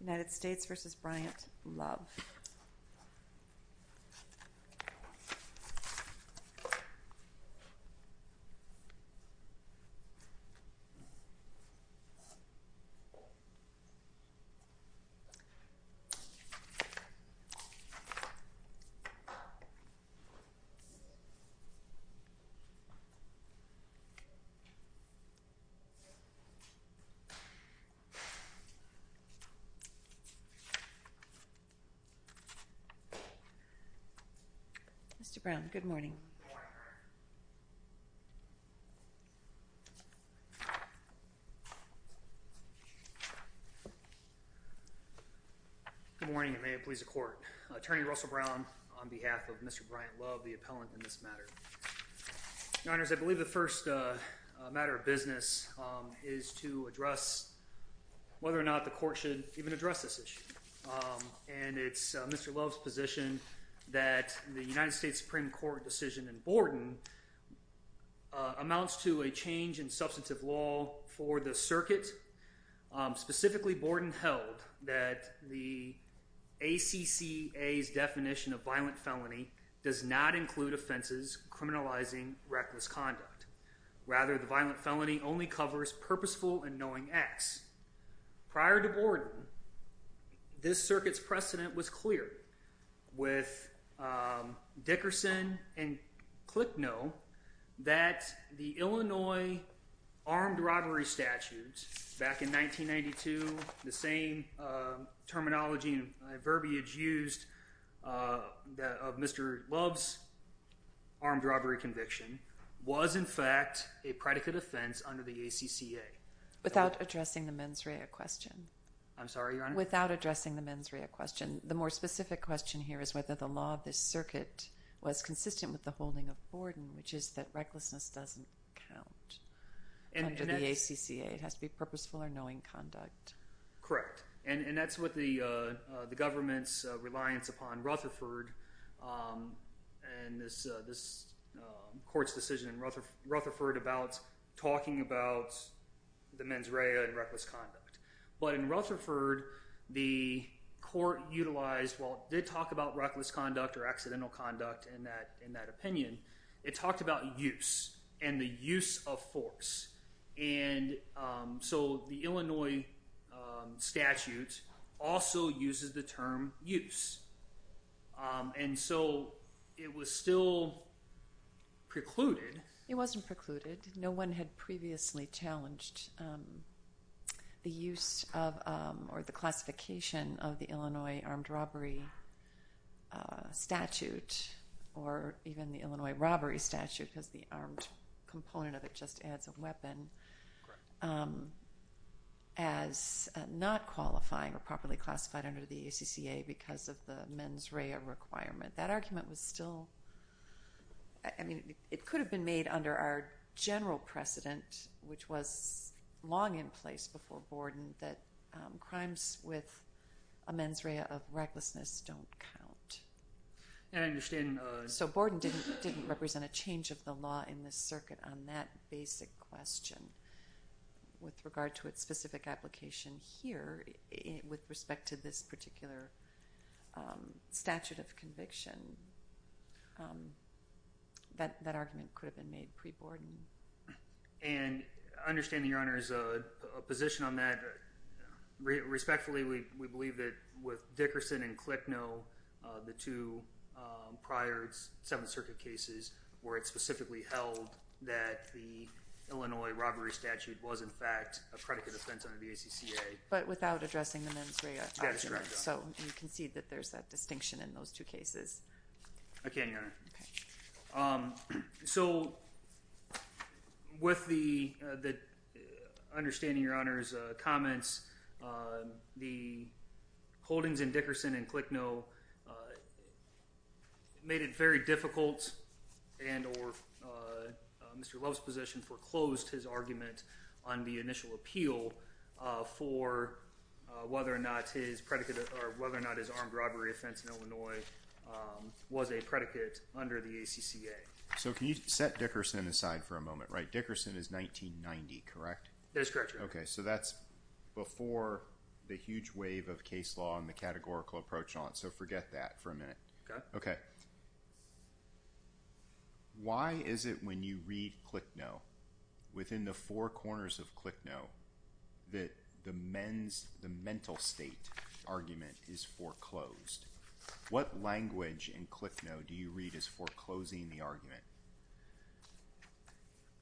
United States v. Bryant Love Attorney Russell Brown on behalf of Mr. Bryant Love, the appellant in this matter. Your Honors, I believe the first matter of business is to address whether or not the court should even address this issue. And it's Mr. Love's position that the United States Supreme Court decision in Borden amounts to a change in substantive law for the circuit. Specifically, Borden held that the ACCA's definition of violent felony does not include offenses criminalizing reckless conduct. Rather, the violent felony only covers purposeful and knowing acts. Prior to Borden, this circuit's precedent was clear with Dickerson and Clicknoe that the Illinois armed robbery statutes back in 1992, the same terminology and verbiage used of Mr. Love's armed robbery conviction was in fact a predicate offense under the ACCA. Without addressing the mens rea question. I'm sorry, Your Honor? Without addressing the mens rea question. The more specific question here is whether the law of this circuit was consistent with the holding of Borden, which is that recklessness doesn't count under the ACCA. It has to be purposeful or knowing conduct. Correct. And that's what the government's reliance upon Rutherford and this court's decision in Rutherford about talking about the mens rea and reckless conduct. But in Rutherford, the court utilized, while it did talk about reckless conduct or accidental conduct in that opinion, it talked about use and the use of force. And so the Illinois statute also uses the term use. And so it was still precluded. It wasn't precluded. No one had previously challenged the use of, or the classification of the Illinois armed robbery statute or even the Illinois robbery statute because the armed component of it just adds a weapon. As not qualifying or properly classified under the ACCA because of the mens rea requirement. That argument was still, I mean, it could have been made under our general precedent, which was long in place before Borden that crimes with a mens rea of recklessness don't count. I understand. So Borden didn't represent a change of the law in this circuit on that basic question with regard to its specific application here with respect to this particular statute of conviction. That argument could have been made pre-Borden. And I understand that your honor is a position on that. Respectfully, we believe that with Dickerson and Klicknoe, the two prior Seventh Circuit cases where it specifically held that the Illinois robbery statute was in fact a predicate offense under the ACCA. But without addressing the mens rea argument. So you can see that there's that distinction in those two cases. Okay, your honor. Okay. So with the understanding your honors comments, the holdings in Dickerson and Klicknoe made it very difficult and or Mr. Love's position foreclosed his argument on the initial appeal for whether or not his predicate or whether or not his armed robbery offense in Illinois was a predicate under the ACCA. So can you set Dickerson aside for a moment, right? Dickerson is 1990, correct? That's correct, your honor. Okay, so that's before the huge wave of case law and the categorical approach on it. So forget that for a minute. Okay. Okay. Why is it when you read Klicknoe within the four corners of Klicknoe that the mens, the mental state argument is foreclosed? What language in Klicknoe do you read as foreclosing the argument?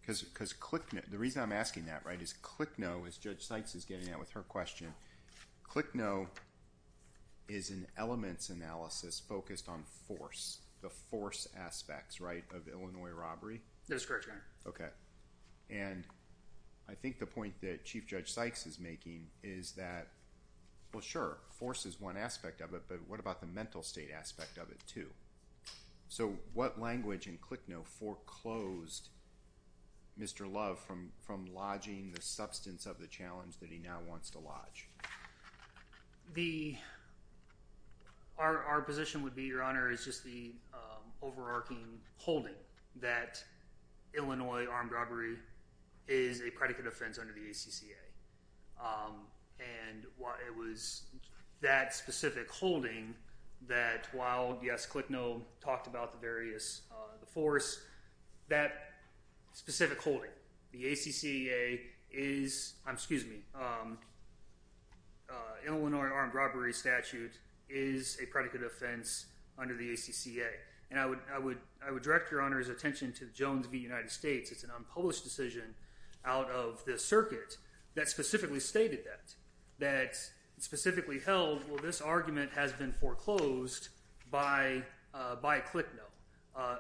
Because Klicknoe, the reason I'm asking that, right, is Klicknoe, as Judge Sykes is getting at with her question, Klicknoe is an elements analysis focused on force, the force aspects, right, of Illinois robbery? That is correct, your honor. Okay. And I think the point that Chief Judge Sykes is making is that, well, sure, force is one aspect of it, but what about the mental state aspect of it too? So what language in Klicknoe foreclosed Mr. Love from lodging the substance of the challenge that he now wants to lodge? Our position would be, your honor, is just the overarching holding that Illinois armed robbery is a predicate offense under the ACCA. And it was that specific holding that while, yes, Klicknoe talked about the various, the force, that specific holding, the ACCA is, excuse me, Illinois armed robbery statute is a predicate offense under the ACCA. And I would direct your honor's attention to Jones v. United States. It's an unpublished decision out of the circuit that specifically stated that, that specifically held, well, this argument has been foreclosed by Klicknoe,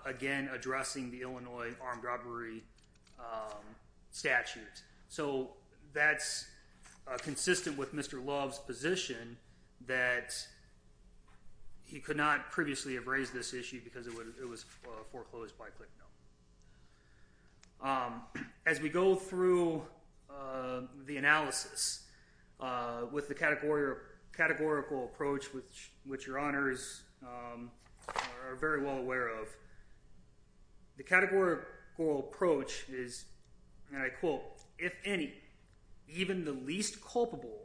again, addressing the Illinois armed robbery statute. So that's consistent with Mr. Love's position that he could not previously have raised this issue because it was foreclosed by Klicknoe. As we go through the analysis with the categorical approach, which your honors are very well aware of, the categorical approach is, and I quote, if any, even the least culpable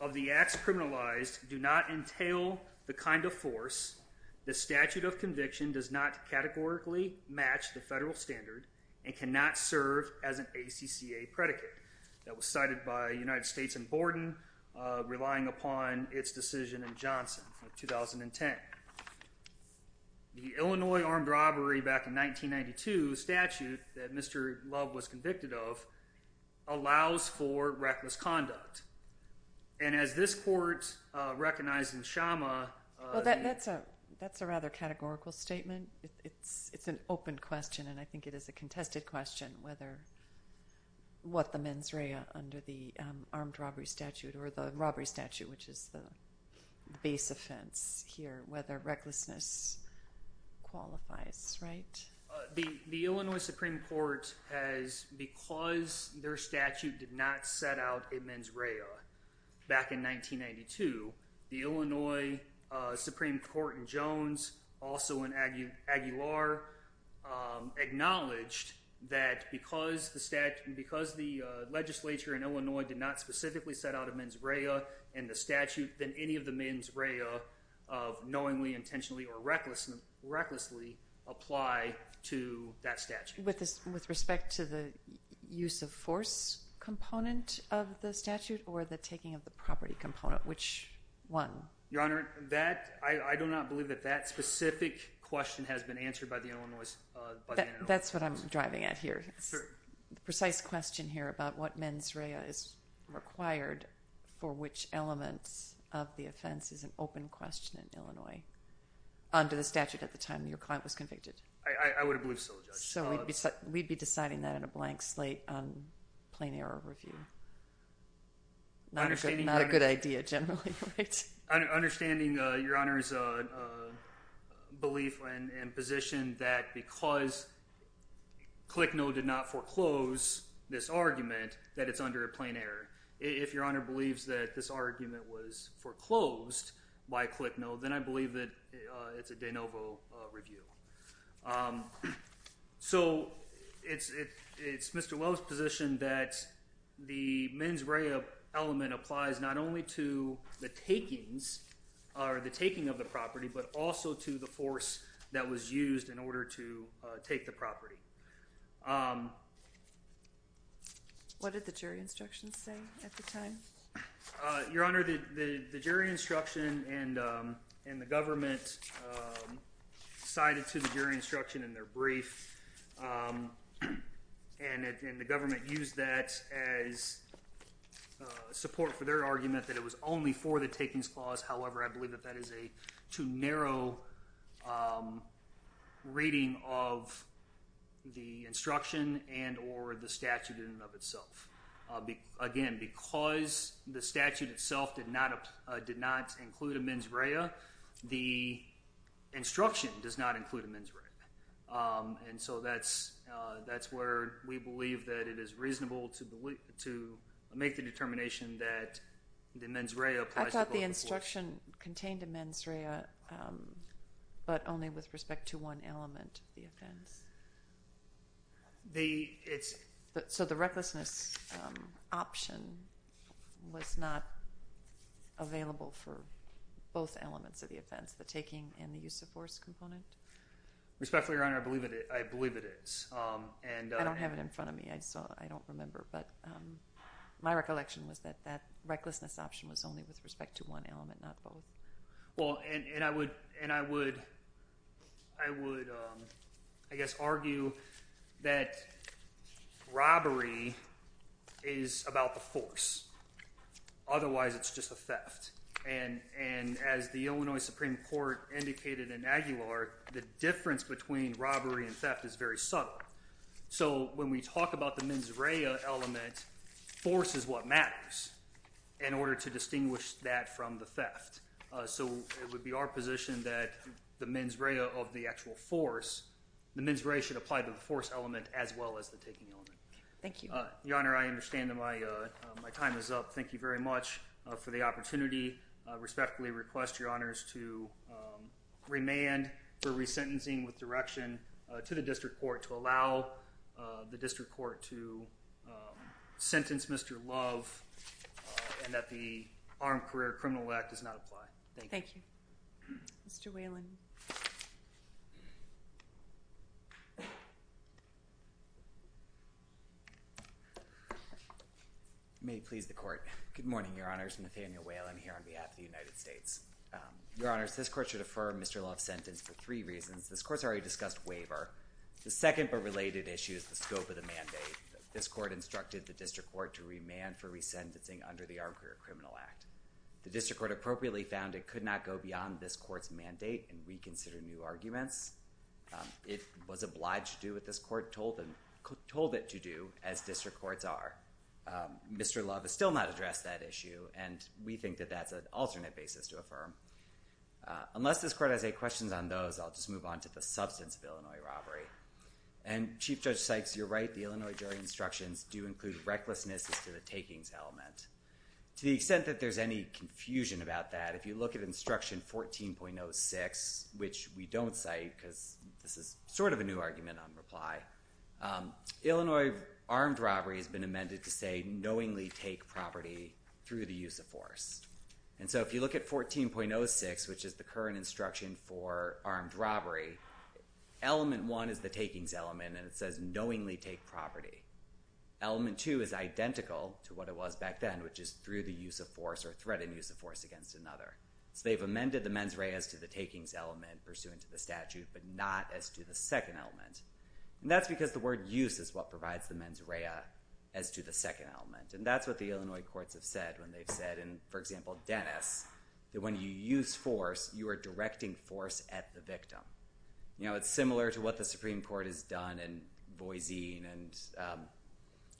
of the acts criminalized do not entail the kind of force, the statute of conviction does not categorically match the federal standard and cannot serve as an ACCA predicate. That was cited by United States and Borden relying upon its decision in Johnson of 2010. The Illinois armed robbery back in 1992 statute that Mr. Love was convicted of, allows for reckless conduct. And as this court recognized in Shama- Well, that's a rather categorical statement. It's an open question and I think it is a contested question whether what the mens rea under the armed robbery statute or the robbery statute, which is the base offense here, whether recklessness qualifies, right? The Illinois Supreme Court has, because their statute did not set out a mens rea back in 1992, the Illinois Supreme Court in Jones, also in Aguilar, acknowledged that because the stat, because the legislature in Illinois did not specifically set out a mens rea in the statute, then any of the mens rea of knowingly, intentionally or recklessly apply to that statute. With respect to the use of force component of the statute or the taking of the property component, which one? Your Honor, I do not believe that that specific question has been answered by the Illinois Supreme Court. That's what I'm driving at here. The precise question here about what mens rea is required for which elements of the offense is an open question in Illinois. Under the statute at the time your client was convicted. I would have believed so, Judge. So we'd be deciding that in a blank slate on plain error review. Not a good idea generally, right? Understanding Your Honor's belief and position that because ClickNo did not foreclose this argument that it's under a plain error. If Your Honor believes that this argument was foreclosed by ClickNo, then I believe that it's a de novo review. So it's Mr. Lowe's position that the mens rea element applies not only to the takings or the taking of the property, but also to the force that was used in order to take the property. What did the jury instructions say at the time? Your Honor, the jury instruction and the government cited to the jury instruction in their brief and the government used that as support for their argument that it was only for the takings clause. However, I believe that that is a too narrow reading of the instruction and or the statute in and of itself again, because the statute itself did not include a mens rea, the instruction does not include a mens rea. And so that's where we believe that it is reasonable to make the determination that the mens rea applies to the public. I thought the instruction contained a mens rea, but only with respect to one element of the offense. So the recklessness option was not available for both elements of the offense, the taking and the use of force component? Respectfully, Your Honor, I believe it is. I don't have it in front of me, I don't remember, but my recollection was that that recklessness option was only with respect to one element, not both. Well, and I would, I guess, argue that robbery is about the force, otherwise it's just a theft. And as the Illinois Supreme Court indicated in Aguilar, the difference between robbery and theft is very subtle. So when we talk about the mens rea element, force is what matters in order to distinguish that from the theft. So it would be our position that the mens rea of the actual force, the mens rea should apply to the force element as well as the taking element. Thank you. Your Honor, I understand that my time is up. Thank you very much for the opportunity. Respectfully request, Your Honors, to remand for resentencing with direction to the district court to allow the district court to sentence Mr. Love and that the Armed Career Criminal Act does not apply. Thank you. Thank you. Mr. Whalen. May it please the court. Good morning, Your Honors. I'm Nathaniel Whalen here on behalf of the United States. Your Honors, this court should defer Mr. Love's sentence for three reasons. This court's already discussed waiver. The second but related issue is the scope of the mandate. This court instructed the district court to remand for resentencing under the Armed Career Criminal Act. The district court appropriately found it could not go beyond this court's mandate and reconsider new arguments. It was obliged to do what this court told it to do as district courts are. Mr. Love has still not addressed that issue and we think that that's an alternate basis to affirm. Unless this court has any questions on those, I'll just move on to the substance of Illinois robbery. And Chief Judge Sykes, you're right, the Illinois jury instructions do include recklessness as to the takings element. To the extent that there's any confusion about that, if you look at instruction 14.06, which we don't cite because this is sort of a new argument on reply, Illinois armed robbery has been amended to say knowingly take property through the use of force. And so if you look at 14.06, which is the current instruction for armed robbery, element one is the takings element and it says knowingly take property. Element two is identical to what it was back then, which is through the use of force or threatened use of force against another. So they've amended the mens rea as to the takings element pursuant to the statute, but not as to the second element. And that's because the word use is what provides the mens rea as to the second element. And that's what the Illinois courts have said when they've said in, for example, Dennis, that when you use force, you are directing force at the victim. It's similar to what the Supreme Court has done in Boise and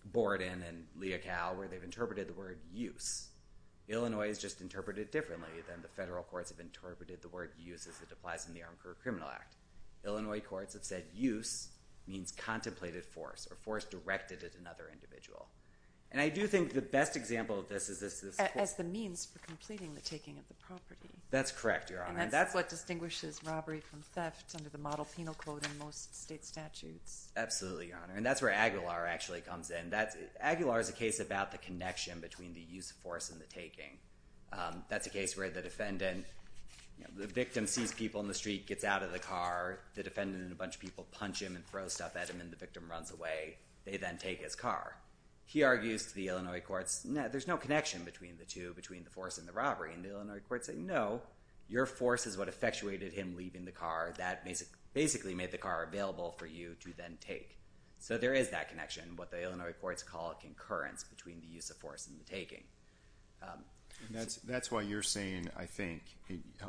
Borden and Leocal where they've interpreted the word use. Illinois has just interpreted it differently than the federal courts have interpreted the word use as it applies in the Armed Career Criminal Act. Illinois courts have said use means contemplated force or force directed at another individual. And I do think the best example of this is this. As the means for completing the taking of the property. That's correct, Your Honor. And that's what distinguishes robbery from theft under the model penal code in most state statutes. Absolutely, Your Honor. And that's where Aguilar actually comes in. Aguilar is a case about the connection between the use of force and the taking. That's a case where the defendant, the victim sees people in the street, gets out of the car, the defendant and a bunch of people punch him and throw stuff at him and the victim runs away. They then take his car. He argues to the Illinois courts, no, there's no connection between the two, between the force and the robbery. And the Illinois courts say, no, your force is what effectuated him leaving the car. Basically made the car available for you to then take. So there is that connection, what the Illinois courts call a concurrence between the use of force and the taking. That's why you're saying, I think,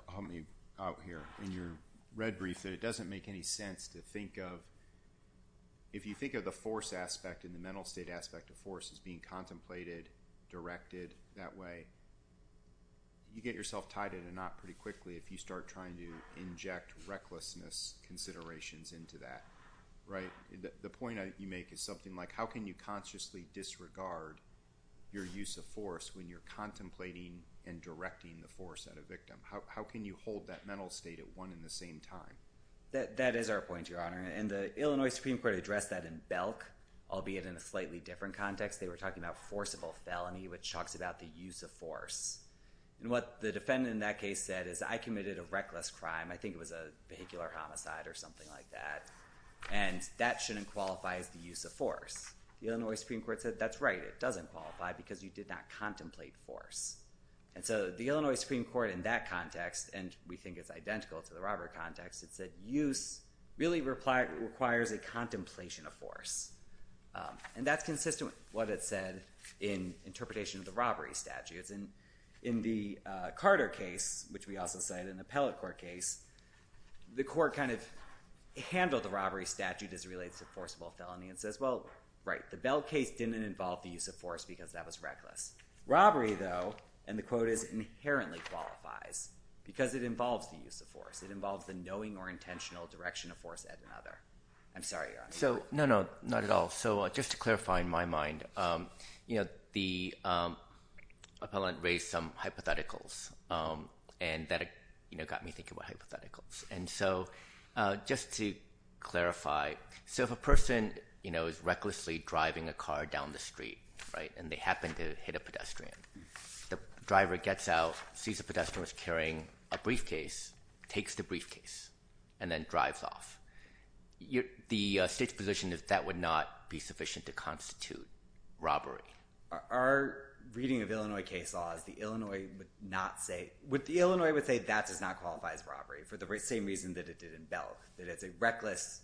help me out here, in your red brief, that it doesn't make any sense to think of, if you think of the force aspect and the mental state aspect of force as being contemplated, directed that way, you get yourself tied in a knot pretty quickly if you start trying to inject recklessness considerations into that, right? The point you make is something like, how can you consciously disregard your use of force when you're contemplating and directing the force at a victim? How can you hold that mental state at one in the same time? That is our point, your honor. And the Illinois Supreme Court addressed that in Belk, albeit in a slightly different context. They were talking about forcible felony, which talks about the use of force. And what the defendant in that case said is, I committed a reckless crime, I think it was a vehicular homicide or something like that, and that shouldn't qualify as the use of force. The Illinois Supreme Court said, that's right, it doesn't qualify because you did not contemplate force. And so the Illinois Supreme Court in that context, and we think it's identical to the robbery context, it said, use really requires a contemplation of force. And that's consistent with what it said in interpretation of the robbery statutes. In the Carter case, which we also cite in the appellate court case, the court kind of handled the robbery statute as it relates to forcible felony and says, well, right, the Belk case didn't involve the use of force because that was reckless. Robbery though, and the quote is inherently qualifies because it involves the use of force. It involves the knowing or intentional direction of force at another. I'm sorry, your honor. So, no, no, not at all. So just to clarify in my mind, you know, the appellant raised some hypotheticals and that got me thinking about hypotheticals. And so just to clarify, so if a person, you know, is recklessly driving a car down the street, right, and they happen to hit a pedestrian, the driver gets out, sees the pedestrian was carrying a briefcase, takes the briefcase, and then drives off, the state's position is that would not be sufficient to constitute robbery. Our reading of Illinois case law is the Illinois would not say, the Illinois would say that does not qualify as robbery for the same reason that it did in Belk, that it's a reckless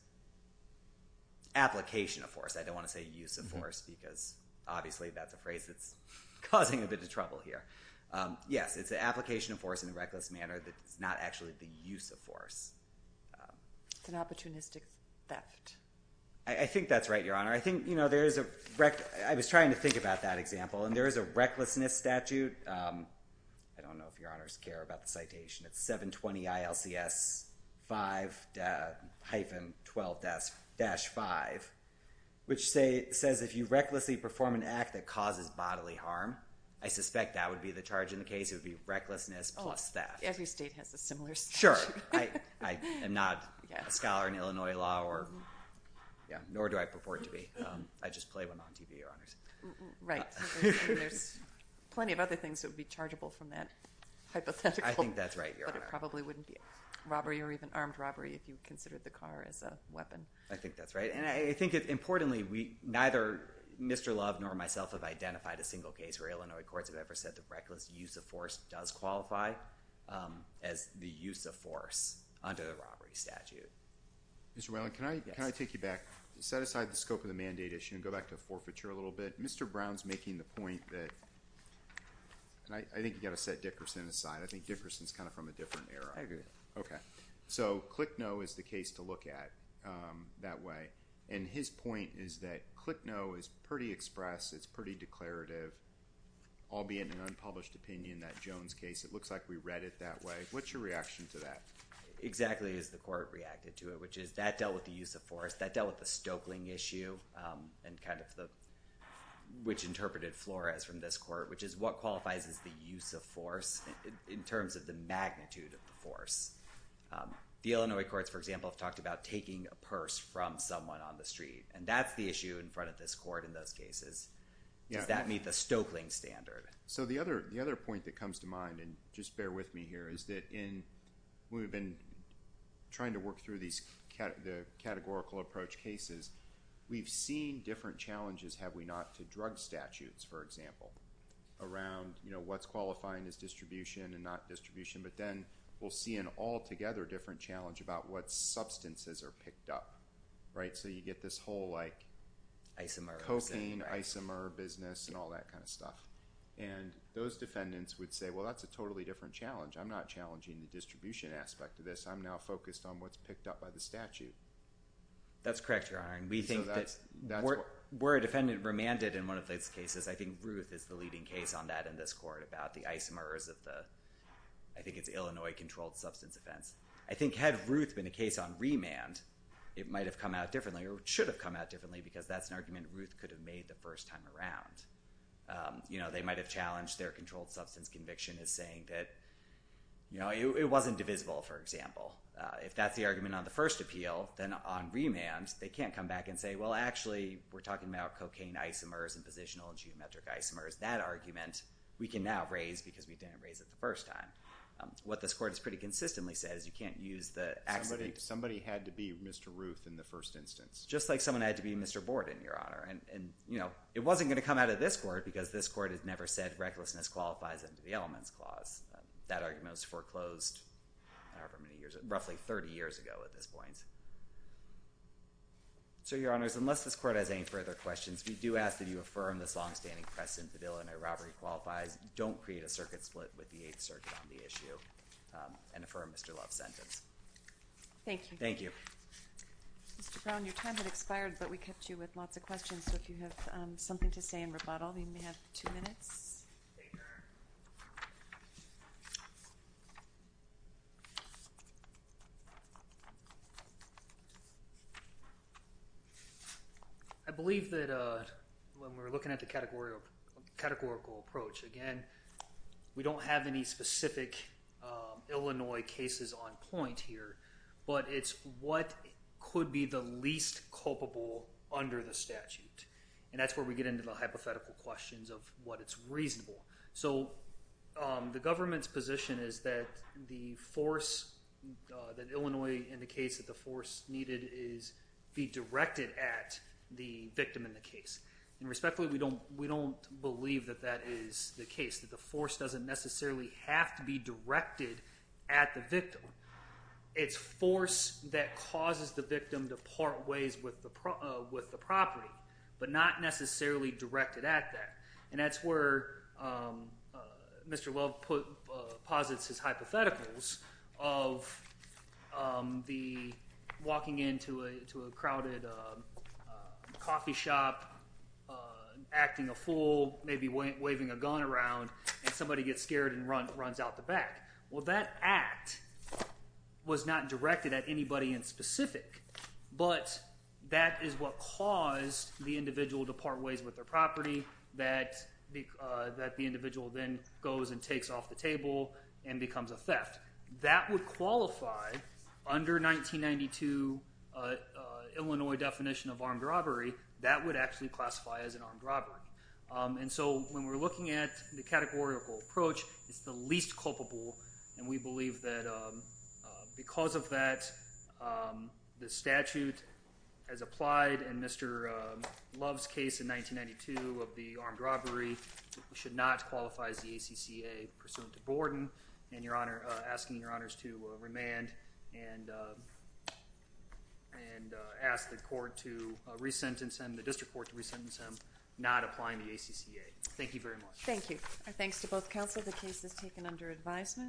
application of force. I don't want to say use of force because obviously that's a phrase that's causing a bit of trouble here. Yes, it's an application of force in a reckless manner that's not actually the use of force. It's an opportunistic theft. I think that's right, Your Honor. I think, you know, there is a, I was trying to think about that example, and there is a recklessness statute. I don't know if Your Honors care about the citation. It's 720 ILCS 5-12-5, which says if you recklessly perform an act that causes bodily harm, I suspect that would be the charge in the case. It would be recklessness plus theft. Every state has a similar statute. Sure, I am not a scholar in Illinois law or, yeah, nor do I purport to be. I just play one on TV, Your Honors. Right, and there's plenty of other things that would be chargeable from that hypothetical. I think that's right, Your Honor. But it probably wouldn't be robbery or even armed robbery if you considered the car as a weapon. I think that's right. And I think importantly, neither Mr. Love nor myself have identified a single case where Illinois courts have ever said that reckless use of force does qualify as the use of force under the robbery statute. Mr. Whelan, can I take you back? Set aside the scope of the mandate issue and go back to forfeiture a little bit. Mr. Brown's making the point that, and I think you gotta set Dickerson aside. I think Dickerson's kind of from a different era. I agree. Okay, so ClickNo is the case to look at that way. And his point is that ClickNo is pretty express. It's pretty declarative, all being an unpublished opinion, that Jones case. It looks like we read it that way. What's your reaction to that? Exactly as the court reacted to it, which is that dealt with the use of force, that dealt with the Stoeckling issue, and kind of which interpreted Flores from this court, which is what qualifies as the use of force in terms of the magnitude of the force. The Illinois courts, for example, have talked about taking a purse from someone on the street. And that's the issue in front of this court in those cases. Does that meet the Stoeckling standard? So the other point that comes to mind, and just bear with me here, is that when we've been trying to work through the categorical approach cases, we've seen different challenges, have we not, to drug statutes, for example, around what's qualifying as distribution and not distribution. But then we'll see an altogether different challenge about what substances are picked up, right? So you get this whole like coping, isomer business, and all that kind of stuff. And those defendants would say, well, that's a totally different challenge. I'm not challenging the distribution aspect of this. I'm now focused on what's picked up by the statute. That's correct, Your Honor. And we think that where a defendant remanded in one of those cases, I think Ruth is the leading case on that in this court about the isomers of the, I think it's Illinois controlled substance offense. I think had Ruth been a case on remand, it might have come out differently, or should have come out differently, because that's an argument Ruth could have made the first time around. They might have challenged their controlled substance conviction as saying that it wasn't divisible, for example. If that's the argument on the first appeal, then on remand, they can't come back and say, well, actually, we're talking about cocaine isomers and positional and geometric isomers. That argument, we can now raise because we didn't raise it the first time. What this court has pretty consistently said is you can't use the accident. Somebody had to be Mr. Ruth in the first instance. Just like someone had to be Mr. Borden, Your Honor. And it wasn't gonna come out of this court because this court has never said that there's no connection to the elements clause. That argument was foreclosed, however many years, roughly 30 years ago at this point. So, Your Honors, unless this court has any further questions, we do ask that you affirm this long-standing precedent. The bill in a robbery qualifies. Don't create a circuit split with the Eighth Circuit on the issue, and affirm Mr. Love's sentence. Thank you. Thank you. Mr. Brown, your time had expired, but we kept you with lots of questions, so if you have something to say in rebuttal, then you may have two minutes. There you are. I believe that when we're looking at the categorical approach, again, we don't have any specific Illinois cases on point here, but it's what could be the least culpable under the statute. And that's where we get into the hypothetical questions of what is reasonable. So, the government's position is that the force, that Illinois indicates that the force needed is be directed at the victim in the case. And respectfully, we don't believe that that is the case, that the force doesn't necessarily have to be directed at the victim. It's force that causes the victim to part ways with the property, but not necessarily directed at that. And that's where Mr. Love posits his hypotheticals of the walking into a crowded coffee shop, acting a fool, maybe waving a gun around, and somebody gets scared and runs out the back. But that is what caused the individual to part ways with their property, that the individual then goes and takes off the table and becomes a theft. That would qualify under 1992 Illinois definition of armed robbery, that would actually classify as an armed robbery. And so, when we're looking at the categorical approach, it's the least culpable, and we believe that because of that, the statute as applied in Mr. Love's case in 1992 of the armed robbery, should not qualify as the ACCA pursuant to Borden, and asking your honors to remand and ask the court to re-sentence him, the district court to re-sentence him, not applying the ACCA. Thank you very much. Thank you. And thanks to both counsel, the case is taken under advisement.